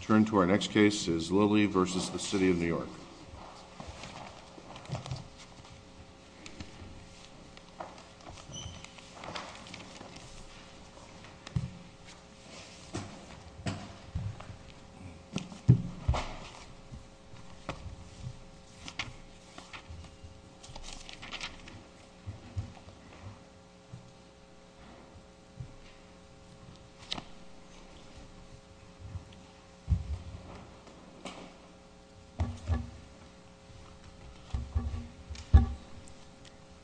Turn to our next case is Lilly v. The City of New York.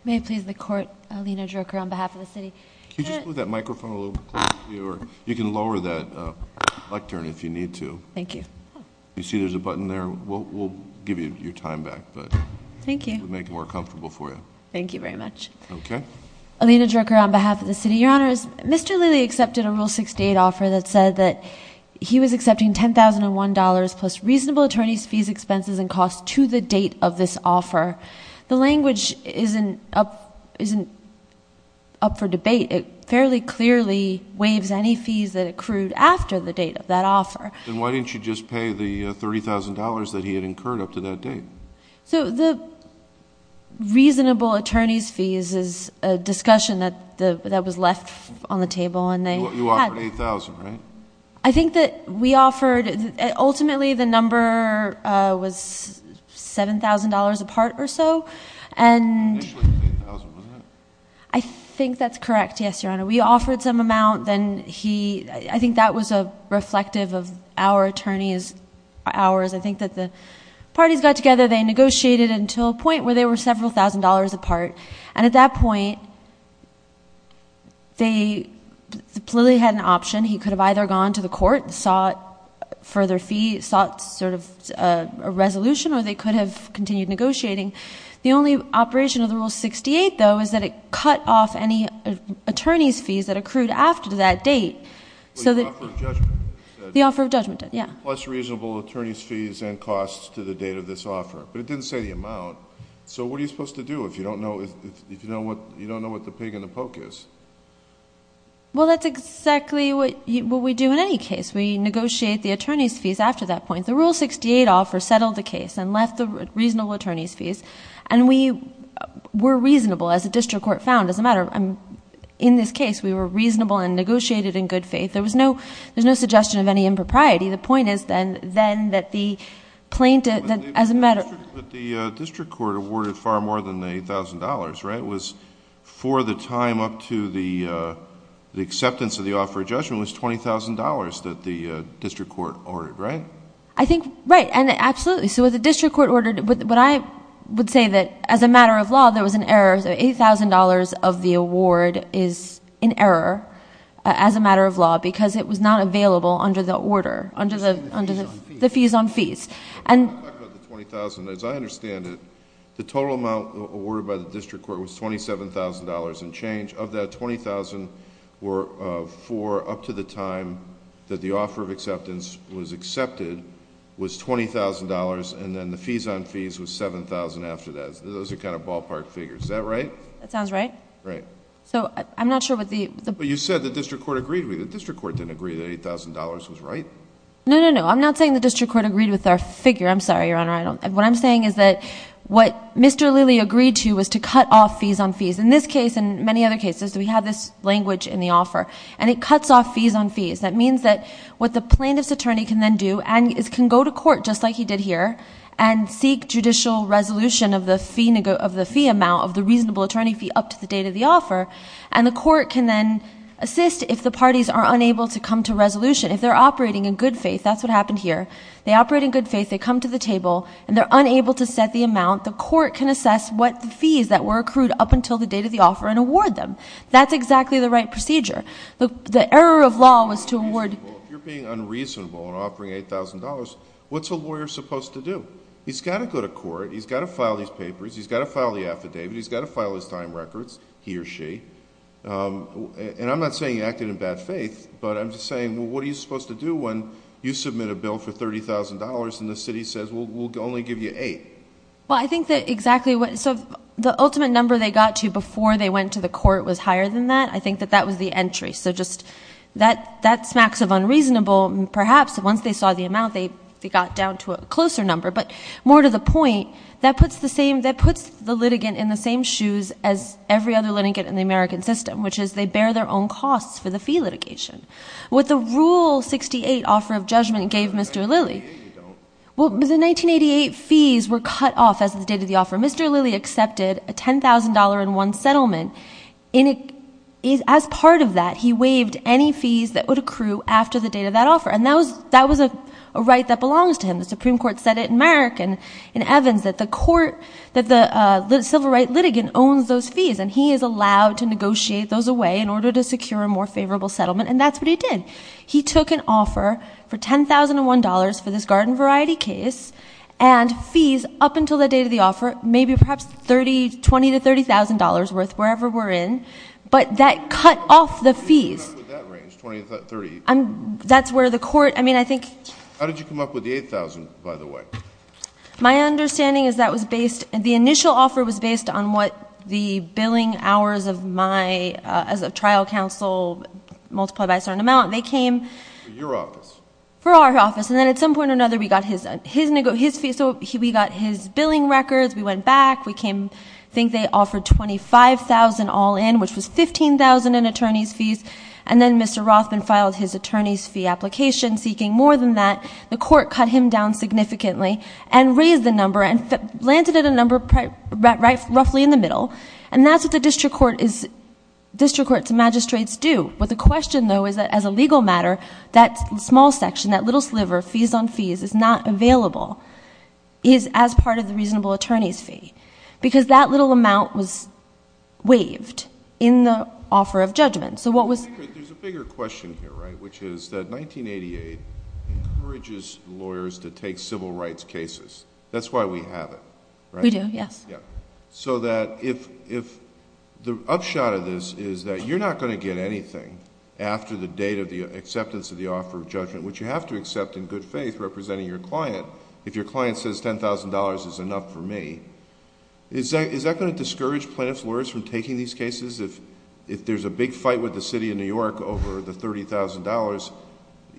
May it please the court, Alina Druker on behalf of the city. Can you just move that microphone a little closer to you? You can lower that lectern if you need to. Thank you. You see there's a button there. We'll give you your time back. Thank you. We'll make it more comfortable for you. Thank you very much. Okay. Alina Druker on behalf of the city. Your Honor, Mr. Lilly accepted a Rule 68 offer that said that he was accepting $10,001 plus reasonable attorney's fees, expenses, and costs to the date of this offer. The language isn't up for debate. It fairly clearly waives any fees that accrued after the date of that offer. Then why didn't you just pay the $30,000 that he had incurred up to that date? The reasonable attorney's fees is a discussion that was left on the table. You offered $8,000, right? I think that we offered... ultimately the number was $7,000 a part or so. Initially it was $8,000, wasn't it? I think that's correct, yes, Your Honor. We offered some amount. I think that was reflective of our attorney's hours. I think that the parties got together. They negotiated until a point where they were several thousand dollars apart. At that point, Lilly had an option. He could have either gone to the court and sought further fees, sought a resolution, or they could have continued negotiating. The only operation of the Rule 68, though, is that it cut off any attorney's fees that accrued after that date. The offer of judgment. The offer of judgment, yes. Plus reasonable attorney's fees and costs to the date of this offer, but it didn't say the amount. What are you supposed to do if you don't know what the pig in the poke is? That's exactly what we do in any case. We negotiate the attorney's fees after that point. The Rule 68 offer settled the case and left the reasonable attorney's fees. We were reasonable, as the district court found. It doesn't matter. In this case, we were reasonable and negotiated in good faith. There was no suggestion of any impropriety. The point is then that the plaintiff... As a matter... But the district court awarded far more than the $8,000, right? It was for the time up to the acceptance of the offer of judgment was $20,000 that the district court ordered, right? I think... right. Absolutely. What the district court ordered... I would say that as a matter of law, there was an error. $8,000 of the award is in error as a matter of law because it was not available under the order, under the fees on fees. Let me talk about the $20,000. As I understand it, the total amount awarded by the district court was $27,000 and change. Of that, $20,000 were for up to the time that the offer of acceptance was accepted was $20,000 and then the fees on fees was $7,000 after that. Those are kind of ballpark figures. Is that right? That sounds right. Right. I'm not sure what the... You said the district court agreed with you. The district court didn't agree that $8,000 was right? No, no, no. I'm not saying the district court agreed with our figure. I'm sorry, Your Honor. What I'm saying is that what Mr. Lilley agreed to was to cut off fees on fees. In this case and many other cases, we have this language in the offer and it cuts off fees on fees. That means that what the plaintiff's attorney can then do and can go to court just like he did here and seek judicial resolution of the fee amount of the reasonable attorney fee up to the date of the offer and the court can then assist if the parties are unable to come to resolution. If they're operating in good faith, that's what happened here. They operate in good faith. They come to the table and they're unable to set the amount. The court can assess what the fees that were accrued up until the date of the offer and award them. That's exactly the right procedure. The error of law was to award... He's got to go to court. He's got to file these papers. He's got to file the affidavit. He's got to file his time records, he or she. I'm not saying he acted in bad faith, but I'm just saying what are you supposed to do when you submit a bill for $30,000 and the city says we'll only give you $8,000? I think that exactly what... The ultimate number they got to before they went to the court was higher than that. I think that that was the entry. That smacks of unreasonable. Perhaps once they saw the amount, they got down to a closer number, but more to the point, that puts the litigant in the same shoes as every other litigant in the American system, which is they bear their own costs for the fee litigation. What the Rule 68 Offer of Judgment gave Mr. Lilly... The 1988 fees were cut off as of the date of the offer. Mr. Lilly accepted a $10,000 in one settlement. As part of that, he waived any fees that would accrue after the date of that offer, and that was a right that belongs to him. The Supreme Court said it in Merrick and in Evans that the civil rights litigant owns those fees, and he is allowed to negotiate those away in order to secure a more favorable settlement, and that's what he did. He took an offer for $10,001 for this garden variety case, and fees up until the date of the offer, maybe perhaps $20,000 to $30,000 worth, wherever we're in, but that cut off the fees. How did you come up with that range, $20,000 to $30,000? That's where the court... I mean, I think... How did you come up with the $8,000, by the way? My understanding is that was based... the initial offer was based on what the billing hours of my... as a trial counsel multiplied by a certain amount. They came... For your office. For our office, and then at some point or another, we got his fee. So, we got his billing records. We went back. We came... I think they offered $25,000 all in, which was $15,000 in attorney's fees, and then Mr. Rothman filed his attorney's fee application seeking more than that. The court cut him down significantly and raised the number and landed at a number roughly in the middle, and that's what the district court is... district court's magistrates do. But the question, though, is that as a legal matter, that small section, that little sliver, fees on fees is not available, is as part of the reasonable attorney's fee, because that little amount was waived in the offer of judgment. So, what was... There's a bigger question here, right, which is that 1988 encourages lawyers to take civil rights cases. That's why we have it, right? We do, yes. So that if the upshot of this is that you're not going to get anything after the date of the acceptance of the offer of judgment, which you have to accept in good faith, representing your client, if your client says $10,000 is enough for me, is that going to discourage plaintiff's lawyers from taking these cases? If there's a big fight with the City of New York over the $30,000,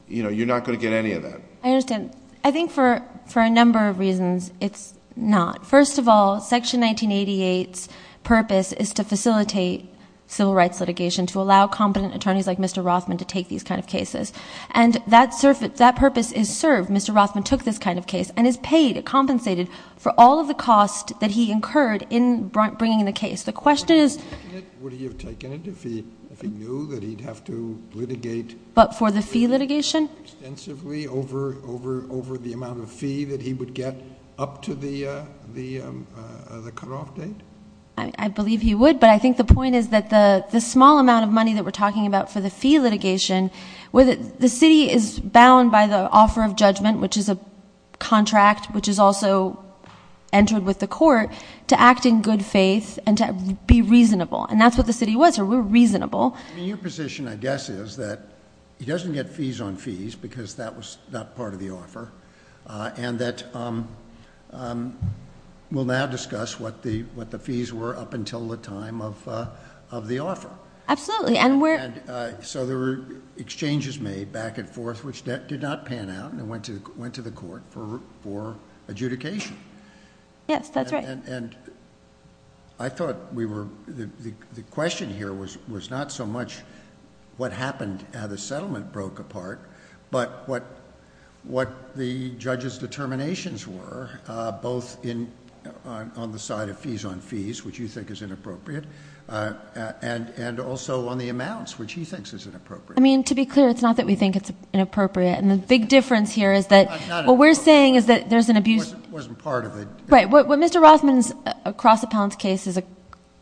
you're not going to get any of that. I understand. I think for a number of reasons, it's not. First of all, Section 1988's purpose is to facilitate civil rights litigation, to allow competent attorneys like Mr. Rothman to take these kind of cases. And that purpose is served. Mr. Rothman took this kind of case and is paid, compensated, for all of the cost that he incurred in bringing the case. The question is... Would he have taken it if he knew that he'd have to litigate... But for the fee litigation? Extensively over the amount of fee that he would get up to the cutoff date? I believe he would. But I think the point is that the small amount of money that we're talking about for the fee litigation, the city is bound by the offer of judgment, which is a contract, which is also entered with the court, to act in good faith and to be reasonable. And that's what the city was. We're reasonable. Your position, I guess, is that he doesn't get fees on fees because that was not part of the offer, and that we'll now discuss what the fees were up until the time of the offer. Absolutely. So there were exchanges made back and forth which did not pan out and went to the court for adjudication. Yes, that's right. And I thought we were... the question here was not so much what happened, how the settlement broke apart, but what the judge's determinations were, both on the side of fees on fees, which you think is inappropriate, and also on the amounts, which he thinks is inappropriate. I mean, to be clear, it's not that we think it's inappropriate. And the big difference here is that what we're saying is that there's an abuse... It wasn't part of it. Right. What Mr. Rothman's across-the-pound case is a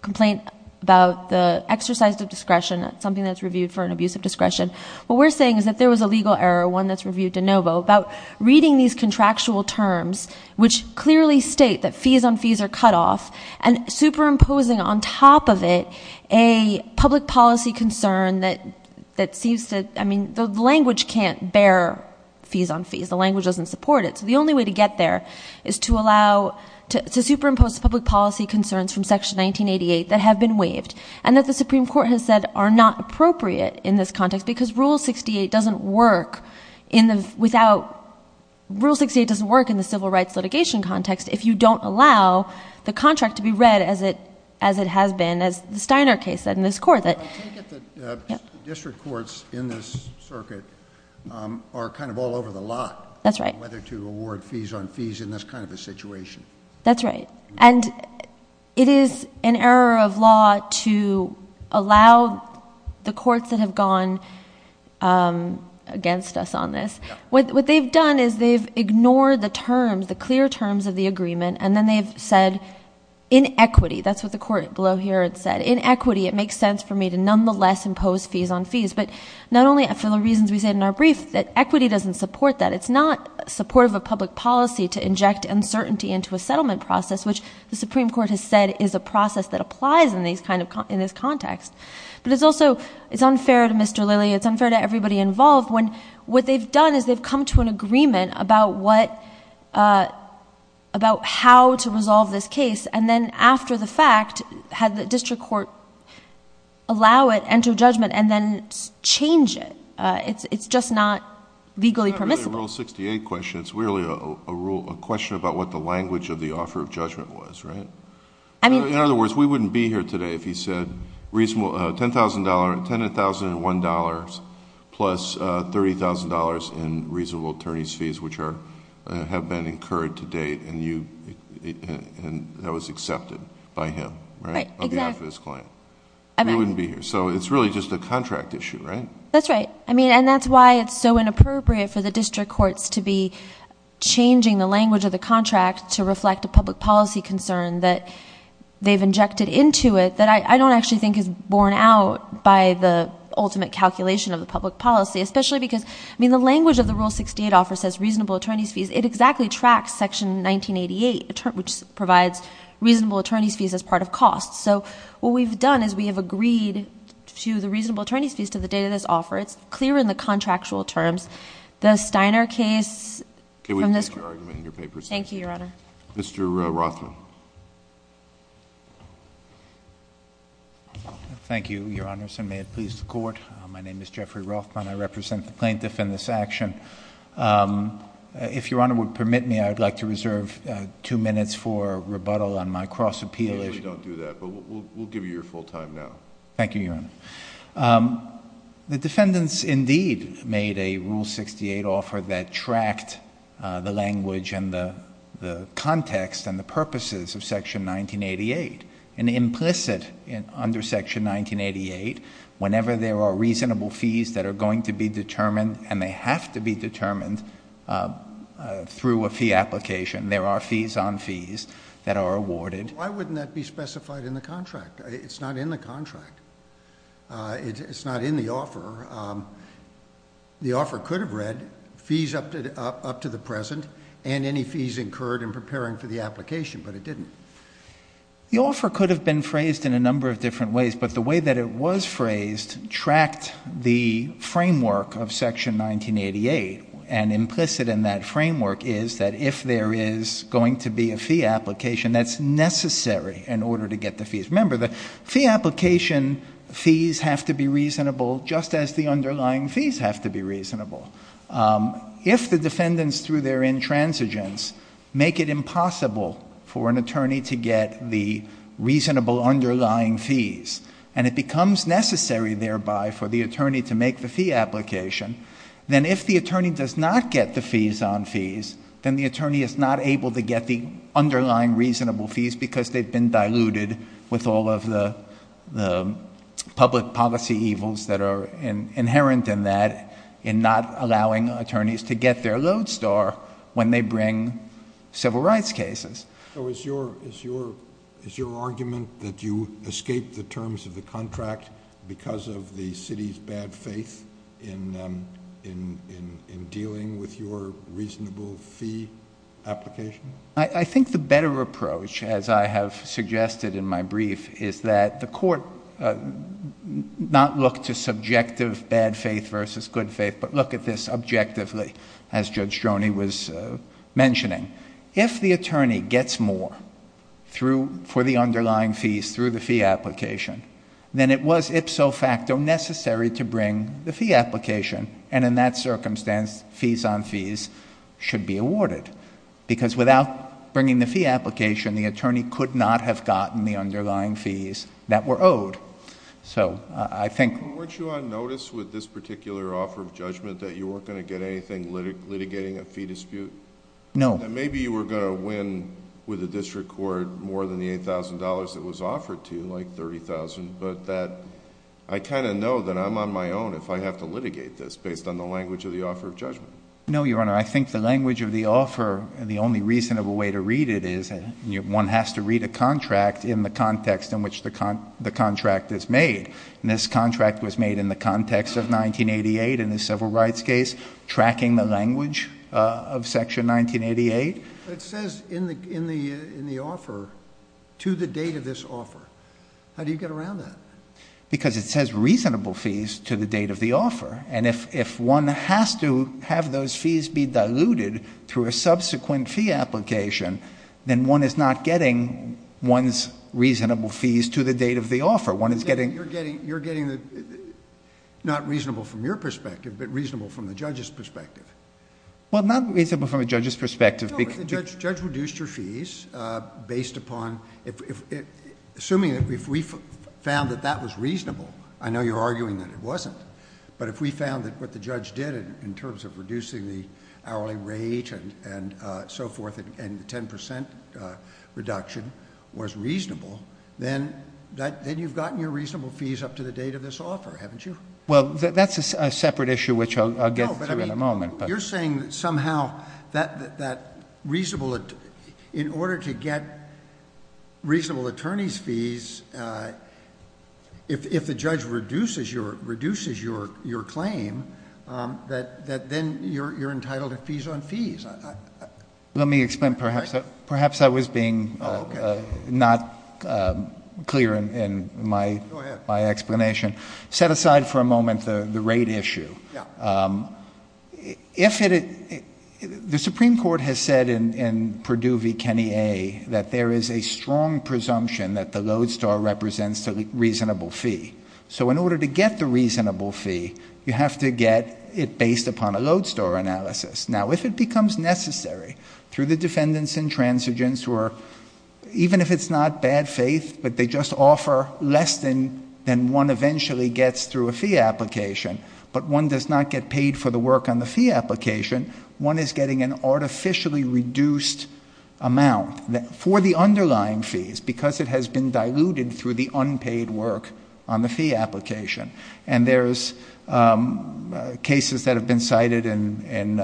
complaint about the exercise of discretion, something that's reviewed for an abuse of discretion. What we're saying is that there was a legal error, one that's reviewed de novo, about reading these contractual terms, which clearly state that fees on fees are cut off, and superimposing on top of it a public policy concern that seems to... I mean, the language can't bear fees on fees. The language doesn't support it. So the only way to get there is to allow... to superimpose public policy concerns from Section 1988 that have been waived and that the Supreme Court has said are not appropriate in this context because Rule 68 doesn't work without... Rule 68 doesn't work in the civil rights litigation context if you don't allow the contract to be read as it has been, as the Steiner case said in this court. I take it that district courts in this circuit are kind of all over the lot... to award fees on fees in this kind of a situation. That's right. And it is an error of law to allow the courts that have gone against us on this. What they've done is they've ignored the terms, the clear terms of the agreement, and then they've said, inequity. That's what the court below here had said. Inequity, it makes sense for me to nonetheless impose fees on fees. But not only for the reasons we said in our brief, that equity doesn't support that. It's not supportive of public policy to inject uncertainty into a settlement process, which the Supreme Court has said is a process that applies in this context. But it's also unfair to Mr. Lilly. It's unfair to everybody involved. What they've done is they've come to an agreement about how to resolve this case, and then after the fact had the district court allow it, enter judgment, and then change it. It's just not legally permissible. It's not really a Rule 68 question. It's really a question about what the language of the offer of judgment was, right? In other words, we wouldn't be here today if he said $10,001 plus $30,000 in reasonable attorney's fees, which have been incurred to date, and that was accepted by him on behalf of his client. We wouldn't be here. So it's really just a contract issue, right? That's right. I mean, and that's why it's so inappropriate for the district courts to be changing the language of the contract to reflect a public policy concern that they've injected into it that I don't actually think is borne out by the ultimate calculation of the public policy, especially because, I mean, the language of the Rule 68 offer says reasonable attorney's fees. It exactly tracks Section 1988, which provides reasonable attorney's fees as part of costs. So what we've done is we have agreed to the reasonable attorney's fees to the date of this offer. It's clear in the contractual terms. The Steiner case from this group. Can we take your argument in your papers? Thank you, Your Honor. Mr. Rothman. Thank you, Your Honors, and may it please the Court. My name is Jeffrey Rothman. I represent the plaintiff in this action. If Your Honor would permit me, I would like to reserve two minutes for rebuttal on my cross-appeal issue. We don't do that, but we'll give you your full time now. Thank you, Your Honor. The defendants indeed made a Rule 68 offer that tracked the language and the context and the purposes of Section 1988. And implicit under Section 1988, whenever there are reasonable fees that are going to be determined, and they have to be determined through a fee application, there are fees on fees that are awarded. Why wouldn't that be specified in the contract? It's not in the contract. It's not in the offer. The offer could have read fees up to the present and any fees incurred in preparing for the application, but it didn't. The offer could have been phrased in a number of different ways, but the way that it was phrased tracked the framework of Section 1988. And implicit in that framework is that if there is going to be a fee application, that's necessary in order to get the fees. Remember, the fee application fees have to be reasonable just as the underlying fees have to be reasonable. If the defendants through their intransigence make it impossible for an attorney to get the reasonable underlying fees, and it becomes necessary thereby for the attorney to make the fee application, then if the attorney does not get the fees on fees, then the attorney is not able to get the underlying reasonable fees because they've been diluted with all of the public policy evils that are inherent in that, in not allowing attorneys to get their load star when they bring civil rights cases. So is your argument that you escaped the terms of the contract because of the city's bad faith in dealing with your reasonable fee application? I think the better approach, as I have suggested in my brief, is that the court not look to subjective bad faith versus good faith, but look at this objectively, as Judge Stroni was mentioning. If the attorney gets more for the underlying fees through the fee application, then it was ipso facto necessary to bring the fee application, and in that circumstance, fees on fees should be awarded. Because without bringing the fee application, the attorney could not have gotten the underlying fees that were owed. So I think... Weren't you on notice with this particular offer of judgment that you weren't going to get anything litigating a fee dispute? No. Maybe you were going to win with the district court more than the $8,000 it was offered to, like $30,000, but I kind of know that I'm on my own if I have to litigate this based on the language of the offer of judgment. No, Your Honor. I think the language of the offer, the only reasonable way to read it is one has to read a contract in the context in which the contract is made. And this contract was made in the context of 1988 in the civil rights case, tracking the language of Section 1988. But it says in the offer, to the date of this offer. How do you get around that? Because it says reasonable fees to the date of the offer, and if one has to have those fees be diluted through a subsequent fee application, then one is not getting one's reasonable fees to the date of the offer. One is getting... You're getting not reasonable from your perspective, but reasonable from the judge's perspective. Well, not reasonable from a judge's perspective because... No, but the judge reduced your fees based upon... assuming that if we found that that was reasonable, I know you're arguing that it wasn't, but if we found that what the judge did in terms of reducing the hourly rate and so forth, and the 10% reduction was reasonable, then you've gotten your reasonable fees up to the date of this offer, haven't you? Well, that's a separate issue which I'll get through in a moment. No, but I mean, you're saying that somehow that reasonable... in order to get reasonable attorney's fees, if the judge reduces your claim, that then you're entitled to fees on fees. Let me explain. Perhaps I was being not clear in my explanation. Go ahead. Set aside for a moment the rate issue. Yeah. If it... the Supreme Court has said in Perdue v. Kenny A that there is a strong presumption that the Lodestar represents a reasonable fee. So in order to get the reasonable fee, you have to get it based upon a Lodestar analysis. Now, if it becomes necessary through the defendants and transigents who are... even if it's not bad faith, but they just offer less than one eventually gets through a fee application, but one does not get paid for the work on the fee application, one is getting an artificially reduced amount for the underlying fees because it has been diluted through the unpaid work on the fee application. And there's cases that have been cited in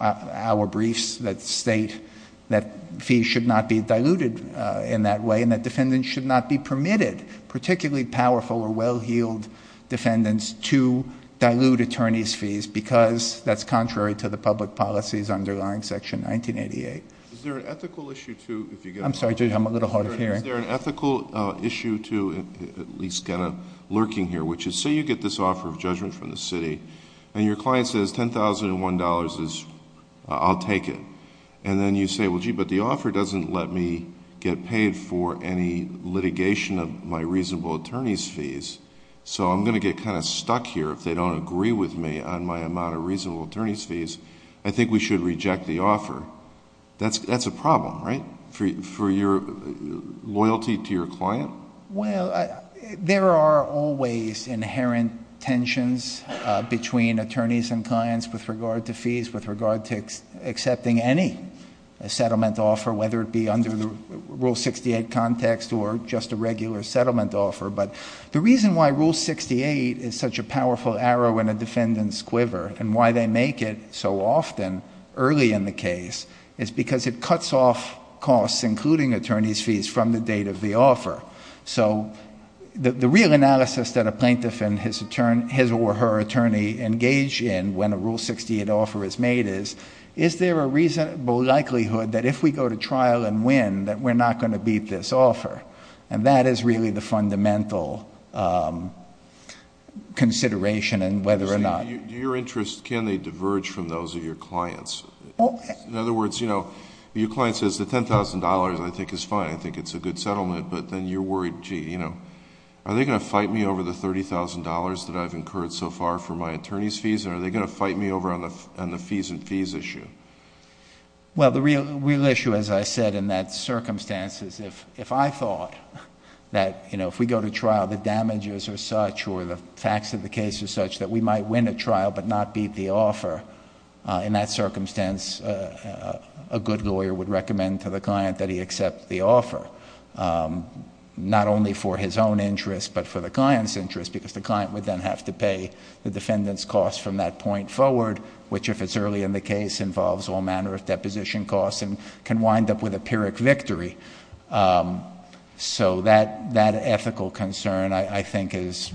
our briefs that state that fees should not be diluted in that way and that defendants should not be permitted, particularly powerful or well-heeled defendants, to dilute attorney's fees because that's contrary to the public policies underlying Section 1988. Is there an ethical issue to... I'm sorry, Judge, I'm a little hard of hearing. Is there an ethical issue to at least kind of lurking here, which is say you get this offer of judgment from the city and your client says $10,001 is... I'll take it. And then you say, well, gee, but the offer doesn't let me get paid for any litigation of my reasonable attorney's fees, so I'm going to get kind of stuck here if they don't agree with me on my amount of reasonable attorney's fees. I think we should reject the offer. That's a problem, right, for your loyalty to your client? Well, there are always inherent tensions between attorneys and clients with regard to fees, with regard to accepting any settlement offer, whether it be under the Rule 68 context or just a regular settlement offer. But the reason why Rule 68 is such a powerful arrow in a defendant's quiver and why they make it so often early in the case is because it cuts off costs, including attorney's fees, from the date of the offer. So the real analysis that a plaintiff and his or her attorney engage in when a Rule 68 offer is made is, is there a reasonable likelihood that if we go to trial and win that we're not going to beat this offer? And that is really the fundamental consideration in whether or not... Your interest, can they diverge from those of your clients? Well... In other words, you know, your client says the $10,000 I think is fine, I think it's a good settlement, but then you're worried, gee, you know, are they going to fight me over the $30,000 that I've incurred so far for my attorney's fees and are they going to fight me over on the fees and fees issue? Well, the real issue, as I said, in that circumstance is if I thought that, you know, if we go to trial, the damages are such or the facts of the case are such that we might win a trial but not beat the offer. In that circumstance, a good lawyer would recommend to the client that he accept the offer, not only for his own interest but for the client's interest, because the client would then have to pay the defendant's costs from that point forward, which if it's early in the case involves all manner of deposition costs and can wind up with a pyrrhic victory. So that ethical concern I think is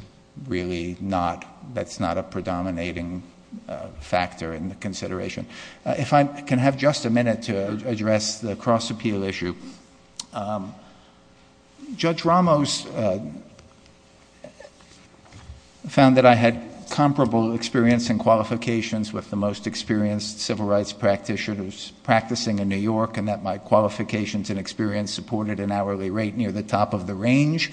really not, that's not a predominating factor in the consideration. If I can have just a minute to address the cross-appeal issue. Judge Ramos found that I had comparable experience and qualifications with the most experienced civil rights practitioners practicing in New York and that my qualifications and experience supported an hourly rate near the top of the range,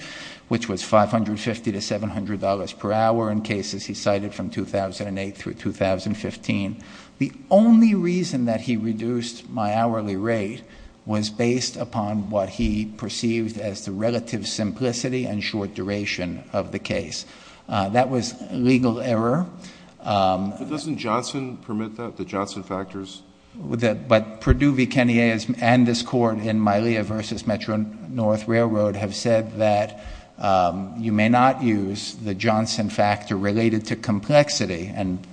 which was $550 to $700 per hour in cases he cited from 2008 through 2015. The only reason that he reduced my hourly rate was based upon what he perceived as the relative simplicity and short duration of the case. That was legal error. But doesn't Johnson permit that, the Johnson factors? But Perdue v. Kenney and this Court in Mylia v. Metro-North Railroad have said that you may not use the Johnson factor related to complexity and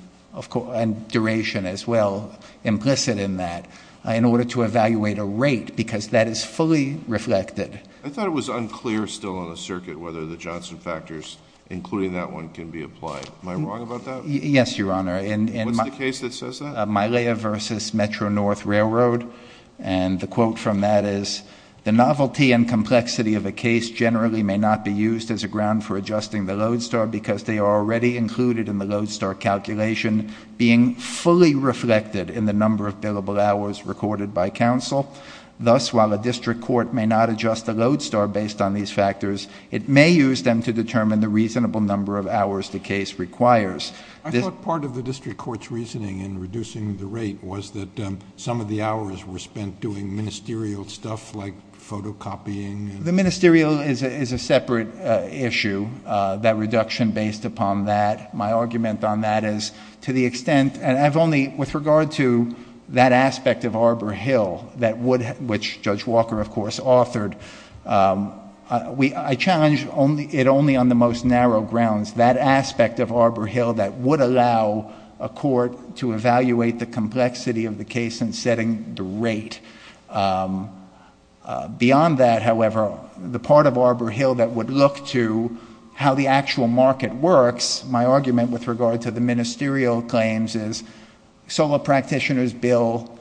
duration as well, implicit in that, in order to evaluate a rate, because that is fully reflected. I thought it was unclear still on the circuit whether the Johnson factors, including that one, can be applied. Am I wrong about that? Yes, Your Honor. What's the case that says that? Mylia v. Metro-North Railroad. And the quote from that is, the novelty and complexity of a case generally may not be used as a ground for adjusting the Lodestar because they are already included in the Lodestar calculation, being fully reflected in the number of billable hours recorded by counsel. Thus, while a district court may not adjust the Lodestar based on these factors, it may use them to determine the reasonable number of hours the case requires. I thought part of the district court's reasoning in reducing the rate was that some of the hours were spent doing ministerial stuff like photocopying. The ministerial is a separate issue, that reduction based upon that. My argument on that is to the extent... With regard to that aspect of Arbor Hill, which Judge Walker, of course, authored, I challenge it only on the most narrow grounds. That aspect of Arbor Hill that would allow a court to evaluate the complexity of the case and setting the rate. Beyond that, however, the part of Arbor Hill that would look to how the actual market works, my argument with regard to the ministerial claims is, solo practitioners bill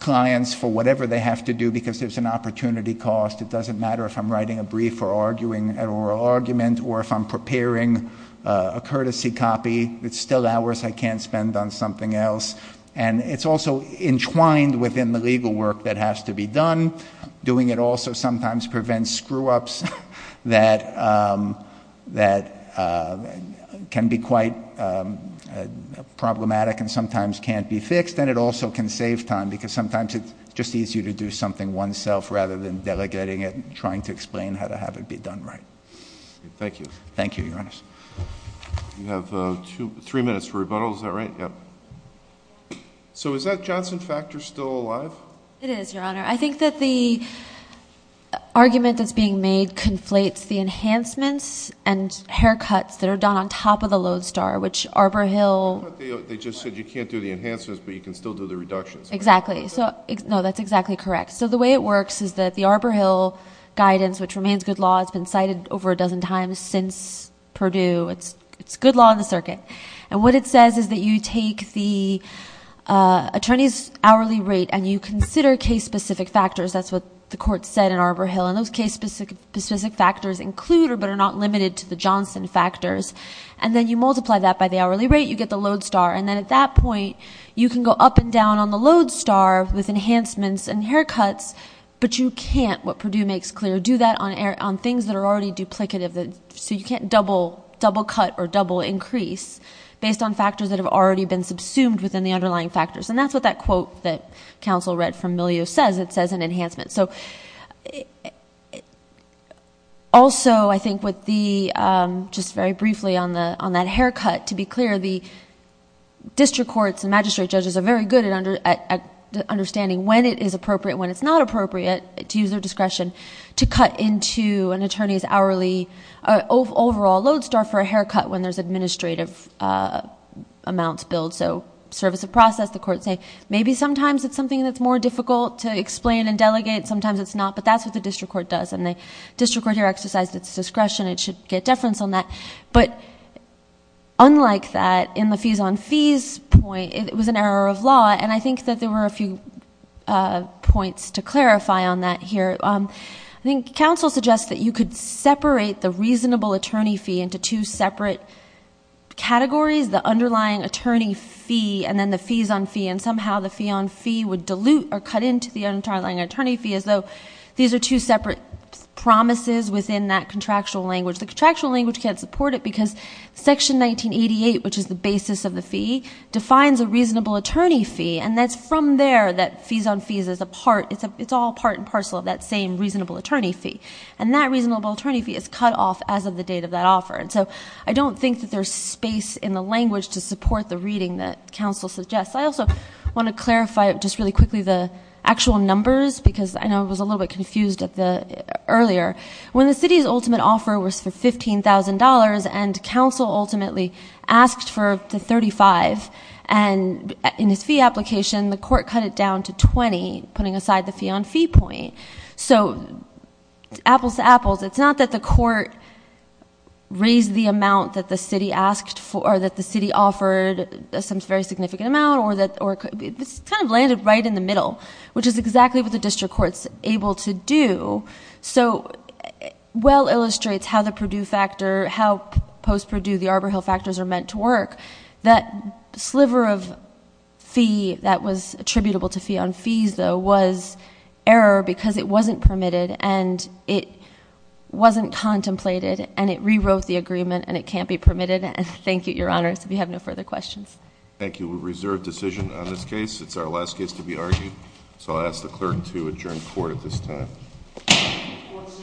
clients for whatever they have to do because there's an opportunity cost. It doesn't matter if I'm writing a brief or arguing an oral argument or if I'm preparing a courtesy copy. It's still hours I can't spend on something else. And it's also entwined within the legal work that has to be done. Doing it also sometimes prevents screw-ups that can be quite problematic and sometimes can't be fixed. And it also can save time because sometimes it's just easier to do something oneself rather than delegating it and trying to explain how to have it be done right. Thank you. Thank you, Your Honor. You have three minutes for rebuttal. Is that right? So is that Johnson factor still alive? It is, Your Honor. I think that the argument that's being made conflates the enhancements and haircuts that are done on top of the Lodestar, which Arbor Hill... Exactly. No, that's exactly correct. So the way it works is that the Arbor Hill guidance, which remains good law, has been cited over a dozen times since Purdue. It's good law in the circuit. And what it says is that you take the attorney's hourly rate and you consider case-specific factors. That's what the court said in Arbor Hill. And those case-specific factors include but are not limited to the Johnson factors. And then you multiply that by the hourly rate. You get the Lodestar. And then at that point, you can go up and down on the Lodestar with enhancements and haircuts, but you can't, what Purdue makes clear, do that on things that are already duplicative. So you can't double cut or double increase based on factors that have already been subsumed within the underlying factors. And that's what that quote that counsel read from Milieu says. It says an enhancement. So also, I think, just very briefly on that haircut, to be clear, the district courts and magistrate judges are very good at understanding when it is appropriate and when it's not appropriate to use their discretion to cut into an attorney's overall Lodestar for a haircut when there's administrative amounts billed, so service of process. The courts say, maybe sometimes it's something that's more difficult to explain and delegate. Sometimes it's not. But that's what the district court does. And the district court here exercised its discretion. It should get deference on that. But unlike that, in the fees on fees point, it was an error of law. And I think that there were a few points to clarify on that here. I think counsel suggests that you could separate the reasonable attorney fee into two separate categories, the underlying attorney fee and then the fees on fee. And somehow the fee on fee would dilute or cut into the underlying attorney fee as though these are two separate promises within that contractual language. The contractual language can't support it because Section 1988, which is the basis of the fee, defines a reasonable attorney fee. And that's from there that fees on fees is a part. It's all part and parcel of that same reasonable attorney fee. And that reasonable attorney fee is cut off as of the date of that offer. And so I don't think that there's space in the language to support the reading that counsel suggests. I also want to clarify just really quickly the actual numbers because I know I was a little bit confused earlier. When the city's ultimate offer was for $15,000 and counsel ultimately asked for the $35,000, and in his fee application the court cut it down to $20,000, putting aside the fee on fee point. So apples to apples, it's not that the court raised the amount that the city asked for or that the city offered some very significant amount. It kind of landed right in the middle, which is exactly what the district court is able to do. So well illustrates how the Purdue factor, how post-Purdue the Arbor Hill factors are meant to work. That sliver of fee that was attributable to fee on fees, though, was error because it wasn't permitted and it wasn't contemplated and it rewrote the agreement and it can't be permitted. And thank you, Your Honors, if you have no further questions. Thank you. We reserve decision on this case. It's our last case to be argued, so I'll ask the clerk to adjourn court at this time. Court is adjourned.